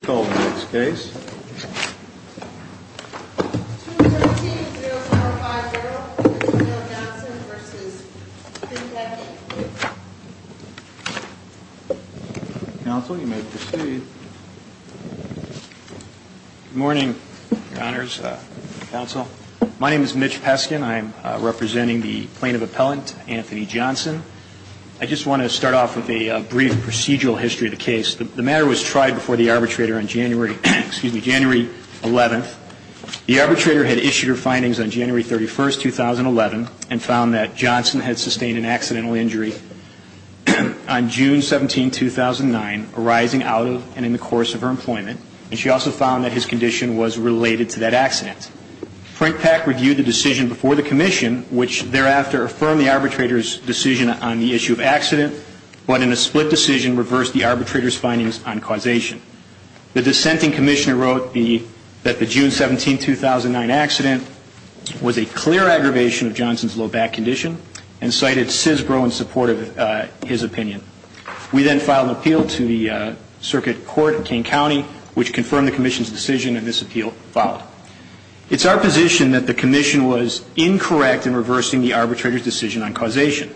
Good morning, Your Honors, Counsel. My name is Mitch Peskin. I'm representing the Plaintiff Appellant, Anthony Johnson. I just want to start off with a brief procedural history of the case. The matter was tried before the arbitrator on January, excuse me, January 11th. The arbitrator had issued her findings on January 31st, 2011, and found that Johnson had sustained an accidental injury on June 17, 2009, arising out of and in the course of her employment. And she also found that his condition was related to that accident. Frank Pack reviewed the decision before the Commission, which thereafter affirmed the arbitrator's findings on causation. The dissenting Commissioner wrote that the June 17, 2009 accident was a clear aggravation of Johnson's low back condition, and cited CISBRO in support of his opinion. We then filed an appeal to the Circuit Court in Kane County, which confirmed the Commission's decision, and this appeal followed. It's our position that the Commission was incorrect in reversing the arbitrator's decision on causation.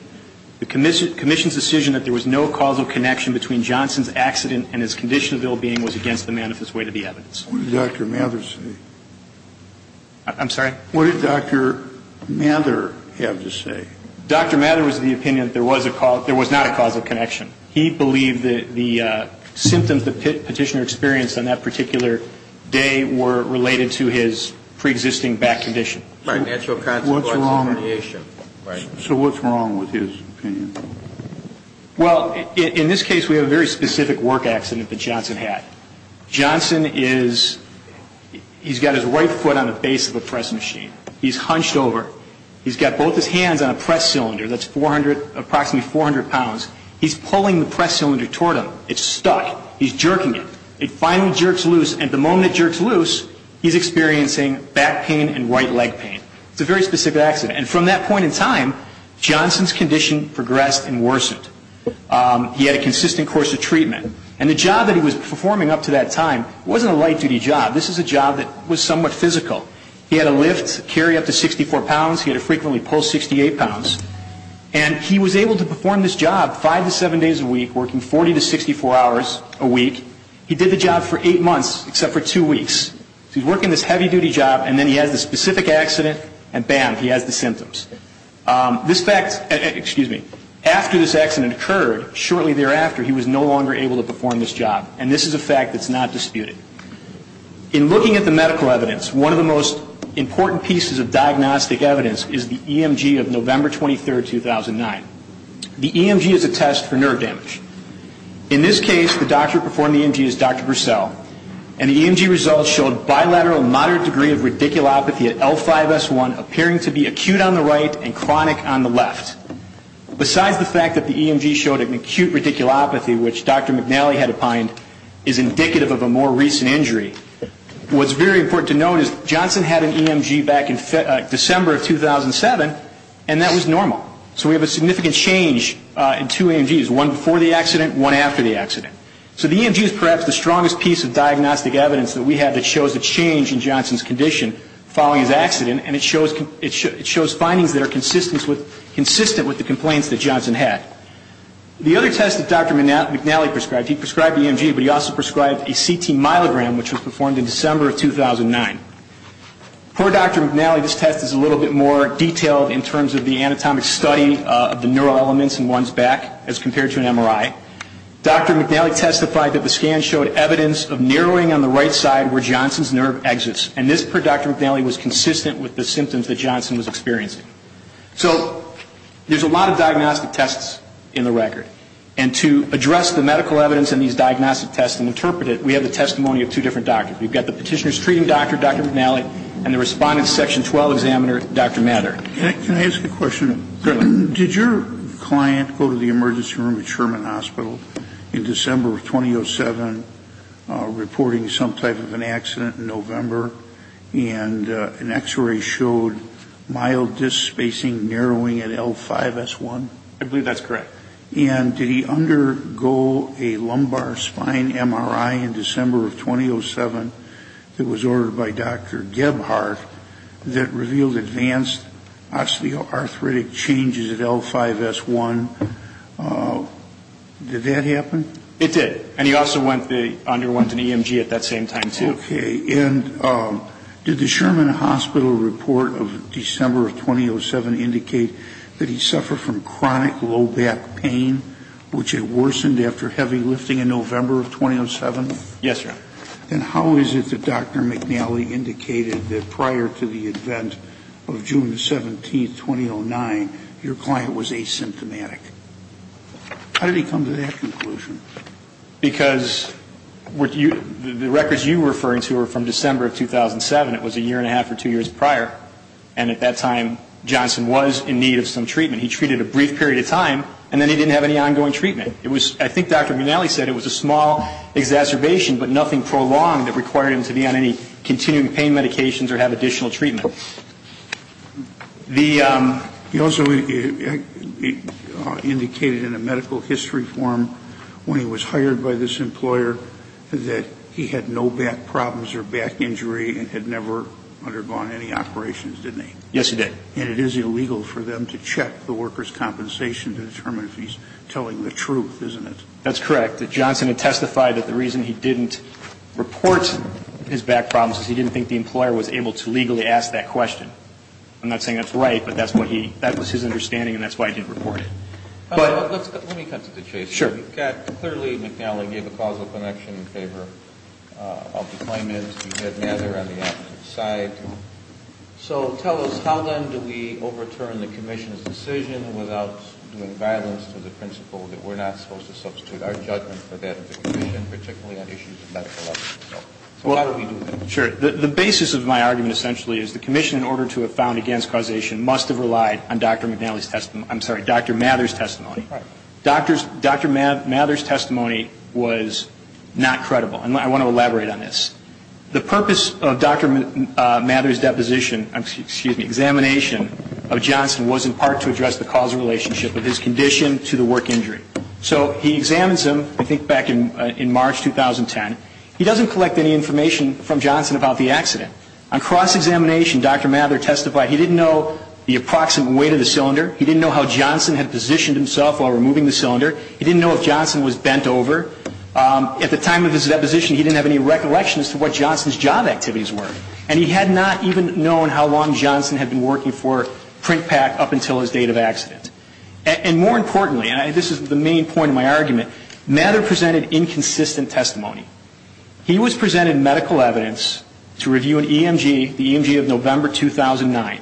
The Commission's decision that there was no causal connection between Johnson's accident and his condition of ill-being was against the manifest way to be evidenced. Kennedy. What did Dr. Mather say? Pack. I'm sorry? Kennedy. What did Dr. Mather have to say? Pack. Dr. Mather was of the opinion that there was not a causal connection. He believed that the symptoms the Petitioner experienced on that particular day were related to his preexisting back condition. Kennedy. So what's wrong with his opinion? Pack. Well, in this case we have a very specific work accident that Johnson had. Johnson is he's got his right foot on the base of a press machine. He's hunched over. He's got both his hands on a press cylinder that's 400, approximately 400 pounds. He's pulling the press cylinder toward him. It's stuck. He's jerking it. It finally jerks loose, and the moment it jerks loose, he's experiencing back pain and right leg pain. It's a very specific accident. And from that point in time, Johnson's condition progressed and worsened. He had a consistent course of treatment. And the job that he was performing up to that time wasn't a light duty job. This is a job that was somewhat physical. He had a lift, carry up to 64 pounds. He had to frequently pull 68 pounds. And he was able to perform this job five to seven days a week, working 40 to 64 hours a week. He did the job for eight months, except for two weeks. So he's working this heavy duty job, and then he has this specific accident, and bam, he has the symptoms. This fact, excuse me, after this accident occurred, shortly thereafter, he was no longer able to perform this job. And this is a fact that's not disputed. In looking at the medical evidence, one of the most important pieces of diagnostic evidence is the EMG of November 23, 2009. The EMG is a test for nerve damage. In this case, the doctor who performed the EMG is Dr. Purcell, and the EMG results showed bilateral moderate degree of radiculopathy at L5-S1, appearing to be acute on the right and chronic on the left. Besides the fact that the EMG showed an acute radiculopathy, which Dr. McNally had opined is indicative of a more recent injury, what's very important to note is Johnson had an EMG back in December of 2007, and that was normal. So we have a significant change in two EMGs, one before the accident, one after the accident. So the EMG is perhaps the strongest piece of diagnostic evidence that we have that shows a change in Johnson's condition following his accident, and it shows findings that are consistent with the complaints that Johnson had. The other test that Dr. McNally prescribed, he prescribed the EMG, but he also prescribed a CT myelogram, which was performed in December of 2009. Per Dr. McNally, this test is a little bit more detailed in terms of the anatomic study of the neural elements in one's back as compared to an MRI. Dr. McNally testified that the nerve exits, and this, per Dr. McNally, was consistent with the symptoms that Johnson was experiencing. So there's a lot of diagnostic tests in the record, and to address the medical evidence in these diagnostic tests and interpret it, we have the testimony of two different doctors. We've got the petitioner's treating doctor, Dr. McNally, and the respondent's section 12 examiner, Dr. Mather. Can I ask a question? Did your client go to the emergency room at Sherman Hospital in December of 2007 reporting some type of an accident in November, and an X-ray showed mild disc spacing narrowing at L5-S1? I believe that's correct. And did he undergo a lumbar spine MRI in December of 2007 that was ordered by Dr. Gebhardt that revealed advanced osteoarthritic changes at L5-S1? Did that happen? It did. And he also underwent an EMG at that same time, too. Okay. And did the Sherman Hospital report of December of 2007 indicate that he suffered from chronic low back pain, which had worsened after heavy lifting in November of 2007? Yes, sir. And how is it that Dr. McNally indicated that prior to the event of June 17, 2009, your client was asymptomatic? How did he come to that conclusion? Because the records you're referring to are from December of 2007. It was a year and a half or two years prior. And at that time, Johnson was in need of some treatment. He treated a brief period of time, and then he didn't have any ongoing treatment. I think Dr. McNally said it was a small exacerbation, but nothing prolonged that required him to be on any continuing pain medications or have additional treatment. He also indicated in a medical history form when he was hired by this employer that he had no back problems or back injury and had never undergone any operations, didn't he? Yes, he did. And it is illegal for them to check the worker's compensation to determine if he's telling the truth, isn't it? That's correct. Johnson had testified that the reason he didn't report his back problems is he didn't think the employer was able to legally ask that question. I'm not saying that's right, but that was his understanding, and that's why he didn't report it. Let me cut to the chase. Clearly, McNally gave a causal connection in favor of the claimant. He had neither on the opposite side. So tell us, how then do we overturn the Commission's decision without doing violence to the principle that we're not supposed to substitute our judgment for that of the Commission, particularly on issues of medical evidence? So how do we do that? Sure. The basis of my argument, essentially, is the Commission, in order to have found against causation, must have relied on Dr. McNally's testimony. I'm sorry, Dr. Mather's testimony. Dr. Mather's testimony was not credible, and I want to elaborate on this. The purpose of Dr. Mather's deposition, excuse me, examination of Johnson was in part to address the causal relationship of his condition to the work injury. So he examines him, I He doesn't collect any information from Johnson about the accident. On cross-examination, Dr. Mather testified he didn't know the approximate weight of the cylinder. He didn't know how Johnson had positioned himself while removing the cylinder. He didn't know if Johnson was bent over. At the time of his deposition, he didn't have any recollection as to what Johnson's job activities were. And he had not even known how long Johnson had been working for PrintPak up until his date of accident. And more importantly, and this is the main point of my argument, Mather presented an inconsistent testimony. He was presented medical evidence to review an EMG, the EMG of November 2009.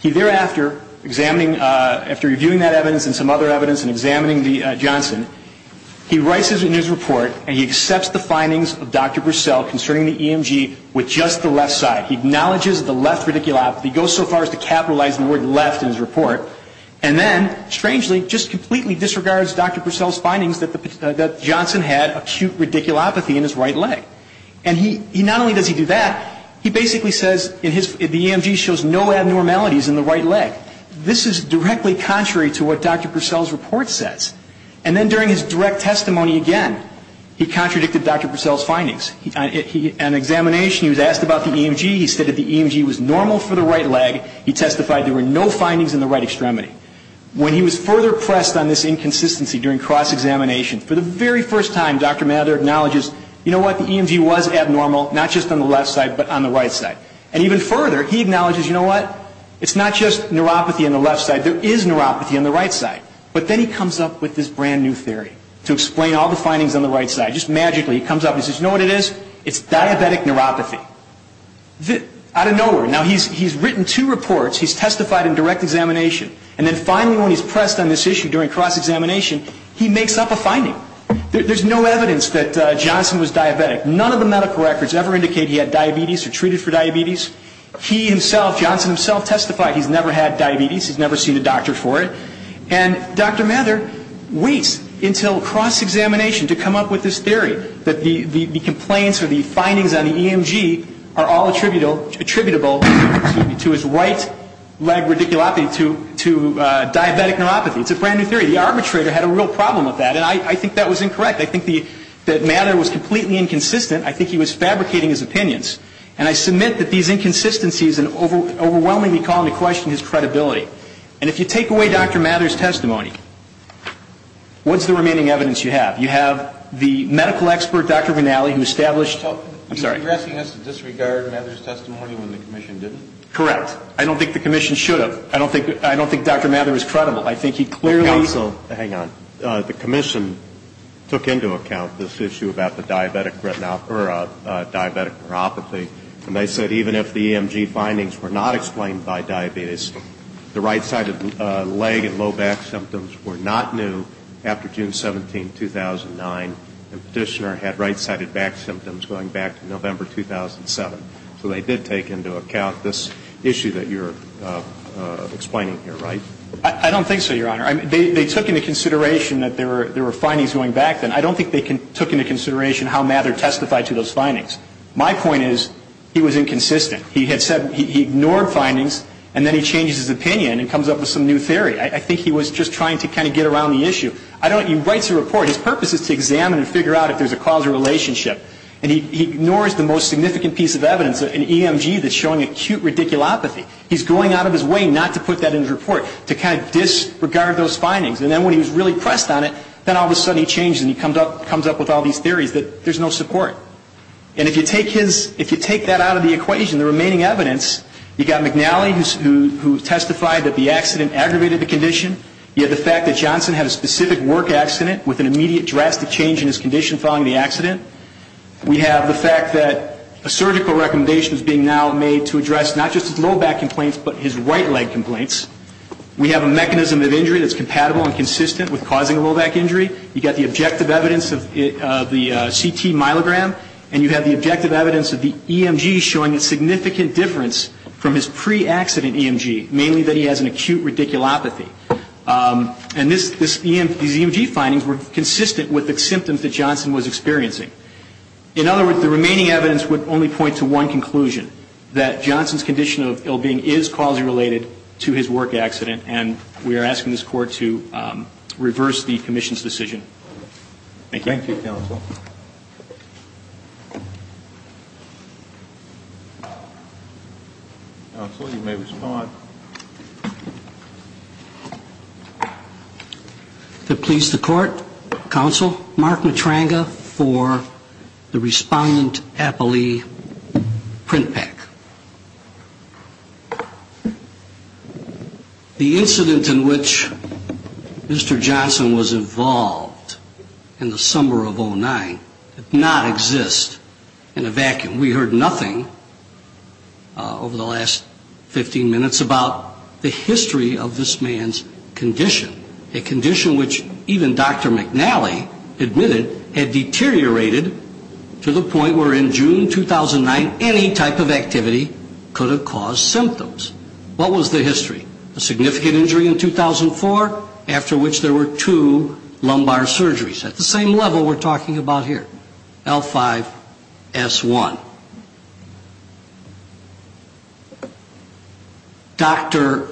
He thereafter, examining, after reviewing that evidence and some other evidence and examining Johnson, he writes it in his report, and he accepts the findings of Dr. Purcell concerning the EMG with just the left side. He acknowledges the left radiculopathy, goes so far as to capitalize the word left in his report, and then, strangely, just completely disregards Dr. Purcell's findings that Johnson had acute radiculopathy in his right leg. And not only does he do that, he basically says the EMG shows no abnormalities in the right leg. This is directly contrary to what Dr. Purcell's report says. And then during his direct testimony again, he contradicted Dr. Purcell's findings. On examination, he was asked about the EMG. He said that the EMG was normal for the right leg. He testified there were no findings in the right extremity. When he was further pressed on this inconsistency during cross-examination, for the very first time, Dr. Mather acknowledges, you know what, the EMG was abnormal, not just on the left side, but on the right side. And even further, he acknowledges, you know what, it's not just neuropathy on the left side, there is neuropathy on the right side. But then he comes up with this brand new theory to explain all the findings on the right side. Just magically, he comes up and says, you know what it is? It's diabetic neuropathy. Out of nowhere. Now, he's written two reports. He's testified in direct examination. And then finally when he's pressed on this issue during cross-examination, he makes up a finding. There's no evidence that Johnson was diabetic. None of the medical records ever indicate he had diabetes or treated for diabetes. He himself, Johnson himself testified he's never had diabetes, he's never seen a doctor for it. And Dr. Mather waits until cross-examination to come up with this attributable to his right leg radiculopathy to diabetic neuropathy. It's a brand new theory. The arbitrator had a real problem with that. And I think that was incorrect. I think that Mather was completely inconsistent. I think he was fabricating his opinions. And I submit that these inconsistencies overwhelmingly call into question his credibility. And if you take away Dr. Mather's testimony, what's the remaining evidence you have? You have the medical expert, Dr. Vinali, who established. I'm sorry. You're asking us to disregard Mather's testimony when the commission didn't? Correct. I don't think the commission should have. I don't think Dr. Mather is credible. I think he clearly. Counsel, hang on. The commission took into account this issue about the diabetic retinopathy or diabetic neuropathy. And they said even if the EMG findings were not explained by diabetes, the right-sided leg and low back symptoms were not new after June 17, 2009. And Petitioner had right-sided back symptoms going back to November 2007. So they did take into account this issue that you're explaining here, right? I don't think so, Your Honor. They took into consideration that there were findings going back then. I don't think they took into consideration how Mather testified to those findings. My point is he was inconsistent. He had said he ignored findings and then he changes his opinion and comes up with some new theory. I think he was just trying to get around the issue. He writes a report. His purpose is to examine and figure out if there's a causal relationship. And he ignores the most significant piece of evidence, an EMG that's showing acute radiculopathy. He's going out of his way not to put that in his report, to kind of disregard those findings. And then when he was really pressed on it, then all of a sudden he changed and he comes up with all these theories that there's no support. And if you take that out of the equation, the remaining evidence, you've got McNally who testified that the accident aggravated the condition. You have the fact that Johnson had a specific work accident with an immediate drastic change in his condition following the accident. We have the fact that a surgical recommendation is being now made to address not just his low back complaints but his right leg complaints. We have a mechanism of injury that's compatible and consistent with causing a low back injury. You've got the objective evidence of the CT myelogram. And you have the objective evidence of the EMG showing a significant difference from his pre-accident EMG, mainly that he has an acute radiculopathy. And this EMG findings were consistent with the symptoms that Johnson was experiencing. In other words, the remaining evidence would only point to one conclusion, that Johnson's condition of ill-being is causally related to his work accident. And we are asking this Court to reverse the Commission's decision. Thank you. Thank you, Counsel. Counsel, you may respond. To please the Court, Counsel, Mark Matranga for the Respondent Appellee Print The incident in which Mr. Johnson was involved in the summer of 09 did not exist in a vacuum. We heard nothing over the last 15 minutes about the history of this man's condition, a condition which even Dr. McNally admitted had deteriorated to the point where in June 2009, any type of activity could have caused symptoms. What was the history? A significant injury in 2004, after which there were two lumbar surgeries, at the same level we're talking about here, L5-S1. Dr.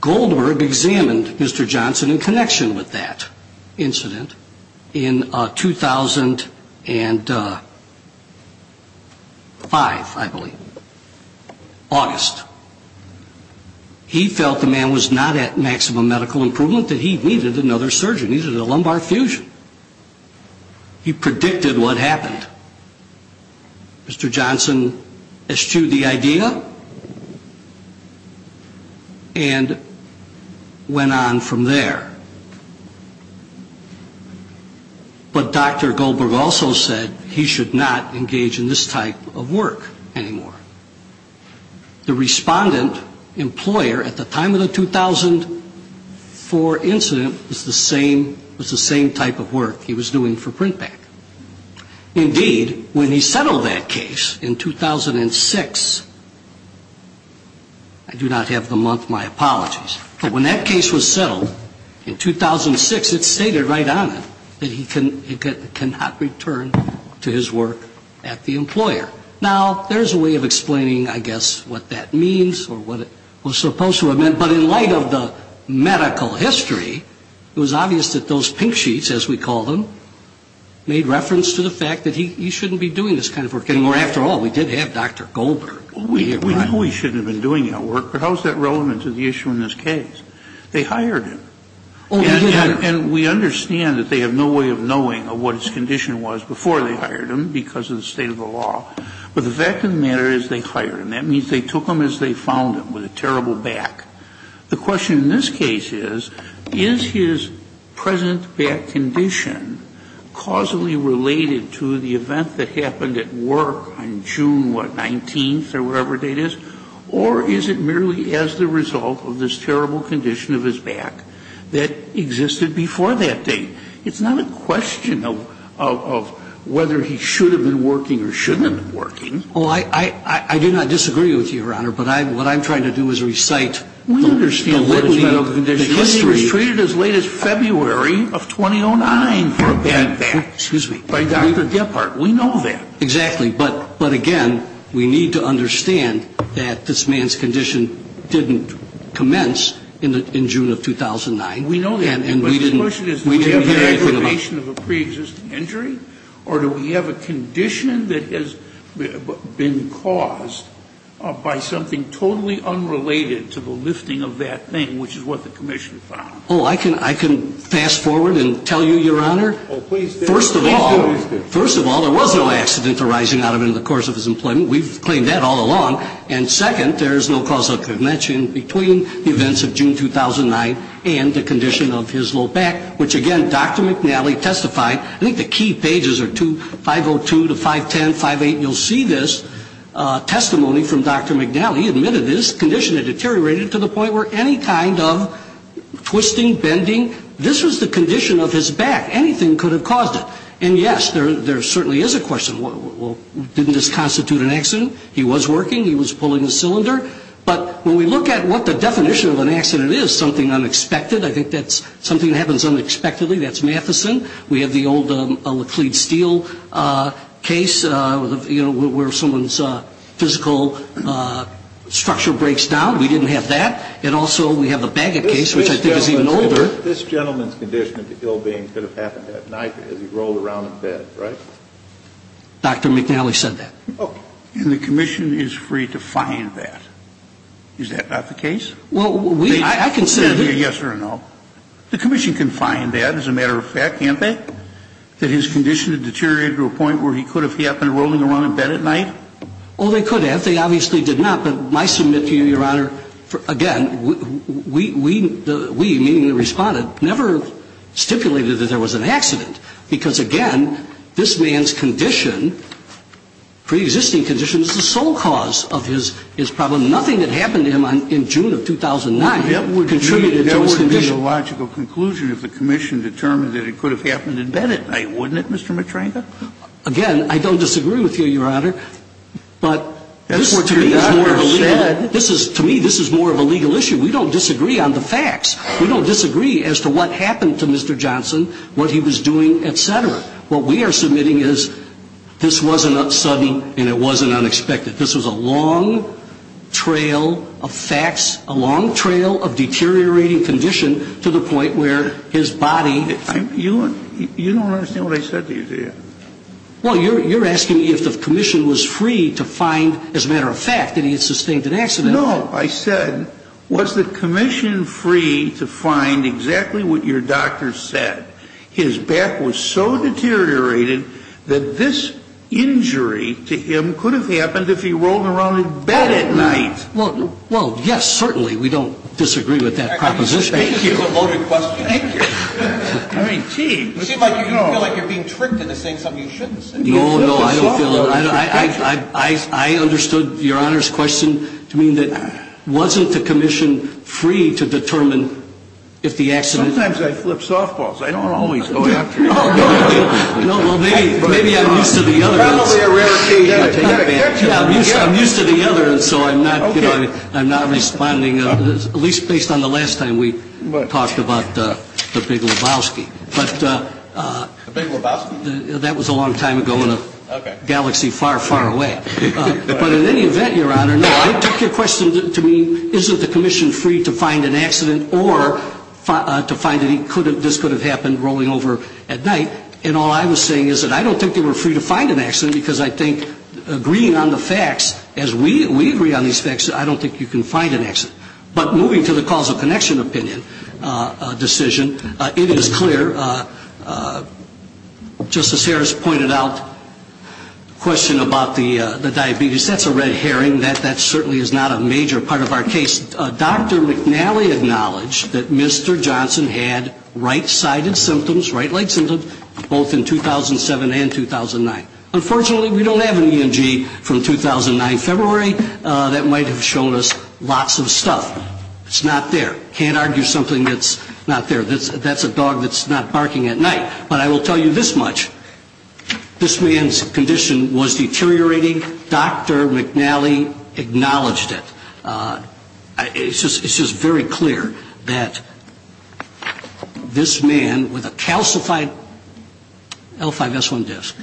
Goldberg examined Mr. Johnson in connection with that incident in 2008. And Dr. Goldberg in 2005, I believe, August, he felt the man was not at maximum medical improvement, that he needed another surgery, needed a lumbar fusion. He predicted what happened. Mr. Johnson eschewed the idea and went on from there. But Dr. Goldberg was not engaged in this type of work anymore. The Respondent Employer, at the time of the 2004 incident, was the same type of work he was doing for print back. Indeed, when he settled that case in 2006, I do not have the month, my apologies, but when that case was settled in 2006, it stated right on it that he could not return to his work at the employer. Now, there's a way of explaining, I guess, what that means or what it was supposed to have meant. But in light of the medical history, it was obvious that those pink sheets, as we call them, made reference to the fact that he shouldn't be doing this kind of work anymore. After all, we did have Dr. Goldberg. We know he shouldn't have been doing that work, but how is that relevant to the issue in this case? They hired him. And we understand that they have no way of knowing what his condition was before they hired him because of the state of the law. But the fact of the matter is they hired him. That means they took him as they found him, with a terrible back. The question in this case is, is his present back condition causally related to the event that happened at work on June, what, 19th or whatever date it is, or is it merely as the result of this terrible condition of his back that existed before that date? It's not a question of whether he should have been working or shouldn't have been working. Oh, I do not disagree with you, Your Honor, but what I'm trying to do is recite a little bit of history. But he was treated as late as February of 2009 for a bad back. Excuse me. By Dr. Gephardt. We know that. Exactly. But again, we need to understand that this man's condition didn't commence in June of 2009. We know that. And we didn't hear anything about it. But the question is, do we have an aggravation of a preexisting injury, or do we have a condition that has been caused by something totally unrelated to the lifting of that thing, which is what the commission found? Oh, I can fast-forward and tell you, Your Honor. Oh, please do. First of all, there was no accident arising out of it in the course of his employment. We've claimed that all along. And second, there is no causal connection between the events of June 2009 and the condition of his low back, which, again, Dr. McNally testified. I think the key pages are 502 to 510, 58. You'll see this testimony from Dr. McNally. He admitted this condition had deteriorated to the point where any kind of twisting, bending, this was the condition of his back. Anything could have caused it. And, yes, there certainly is a question. Well, didn't this constitute an accident? He was working. He was pulling the cylinder. But when we look at what the definition of an accident is, something unexpected, I think that's something that happens unexpectedly. That's Matheson. We have the old Laclede Steel case, you know, where someone's physical structure breaks down. We didn't have that. And also we have the Bagot case, which I think is even older. This gentleman's condition of the ill being could have happened that night as he rolled around in bed, right? Dr. McNally said that. And the commission is free to find that. Is that not the case? Well, we can say yes or no. The commission can find that. As a matter of fact, can't they? That his condition had deteriorated to a point where he could have happened rolling around in bed at night? Oh, they could have. They obviously did not. But I submit to you, Your Honor, again, we, meaning the Respondent, never stipulated that there was an accident because, again, this man's condition, preexisting condition, is the sole cause of his problem. Nothing that happened to him in June of 2009 contributed to his condition. And I think that's the logical conclusion if the commission determined that it could have happened in bed at night, wouldn't it, Mr. Matranka? Again, I don't disagree with you, Your Honor. But this is more of a legal issue. We don't disagree on the facts. We don't disagree as to what happened to Mr. Johnson, what he was doing, et cetera. What we are submitting is this wasn't sudden and it wasn't unexpected. This was a long trail of facts, a long trail of deteriorating condition to the point where his body. You don't understand what I said to you there. Well, you're asking if the commission was free to find, as a matter of fact, that he had sustained an accident. No. I said, was the commission free to find exactly what your doctor said? His back was so deteriorated that this injury to him could have happened if he rolled around in bed at night. Well, yes, certainly. We don't disagree with that proposition. Thank you. It seems like you're being tricked into saying something you shouldn't say. No, no. I understood Your Honor's question to mean that wasn't the commission free to determine if the accident. Sometimes I flip softballs. I don't always go after you. No, well, maybe I'm used to the other. Probably a rare occasion. I'm used to the other, and so I'm not responding, at least based on the last time we talked about the big Lebowski. The big Lebowski? That was a long time ago in a galaxy far, far away. But in any event, Your Honor, it took your question to mean isn't the commission free to find an accident or to find that this could have happened rolling over at night. And all I was saying is that I don't think they were free to find an accident because I think agreeing on the facts as we agree on these facts, I don't think you can find an accident. But moving to the causal connection opinion decision, it is clear, just as Harris pointed out, the question about the diabetes, that's a red herring. That certainly is not a major part of our case. Dr. McNally acknowledged that Mr. Johnson had right-sided symptoms, right-leg symptoms, both in 2007 and 2009. Unfortunately, we don't have an EMG from 2009 February. That might have shown us lots of stuff. It's not there. Can't argue something that's not there. That's a dog that's not barking at night. But I will tell you this much. This man's condition was deteriorating. Dr. McNally acknowledged it. It's just very clear that this man with a calcified L5S1 disc,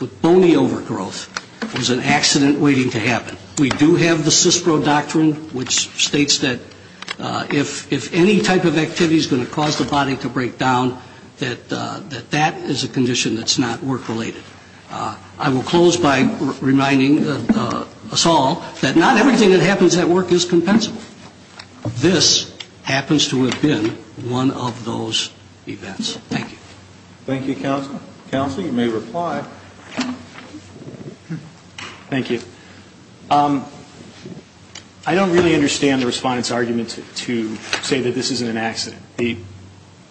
with bony overgrowth, was an accident waiting to happen. We do have the CISPRO doctrine which states that if any type of activity is going to cause the body to break down, that that is a condition that's not work-related. I will close by reminding us all that not everything that happens at work is compensable. This happens to have been one of those events. Thank you. Thank you, Counsel. Counsel, you may reply. Thank you. I don't really understand the Respondent's argument to say that this isn't an accident. The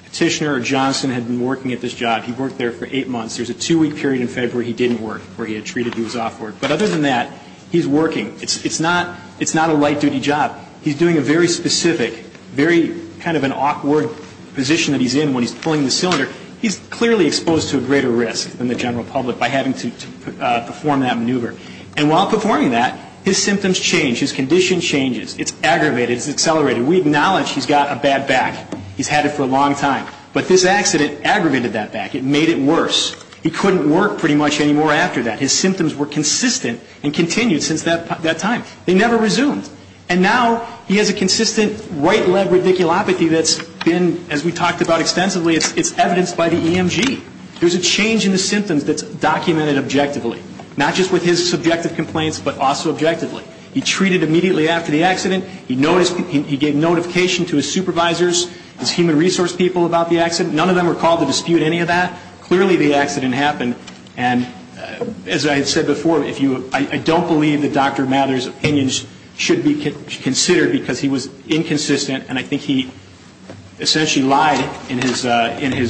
petitioner, Johnson, had been working at this job. He worked there for eight months. There's a two-week period in February he didn't work where he had treated, he was off work. But other than that, he's working. It's not a light-duty job. He's doing a very specific, very kind of an awkward position that he's in when he's pulling the cylinder. He's clearly exposed to a greater risk than the general public by having to perform that maneuver. And while performing that, his symptoms change. His condition changes. It's aggravated. It's accelerated. We acknowledge he's got a bad back. He's had it for a long time. But this accident aggravated that back. It made it worse. He couldn't work pretty much anymore after that. His symptoms were consistent and continued since that time. They never resumed. And now he has a consistent right-legged radiculopathy that's been, as we talked about extensively, it's evidenced by the EMG. There's a change in the symptoms that's documented objectively, not just with his subjective complaints, but also objectively. He treated immediately after the accident. He gave notification to his supervisors, his human resource people about the accident. None of them were called to dispute any of that. Clearly the accident happened. And as I had said before, I don't believe that Dr. Mather's opinions should be considered because he was inconsistent. And I think he essentially lied in his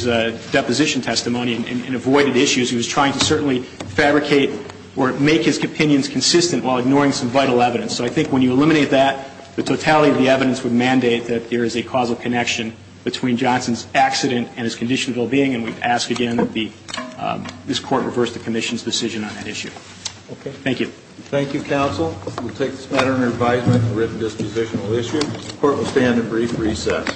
deposition testimony and avoided issues. He was trying to certainly fabricate or make his opinions consistent while ignoring some vital evidence. So I think when you eliminate that, the totality of the evidence would mandate that there is a causal connection between Johnson's accident and his condition of well-being. And we ask again that this Court reverse the Commission's decision on that issue. Thank you. Thank you, counsel. We'll take this matter under advisement for written dispositional issue. The Court will stand at brief recess.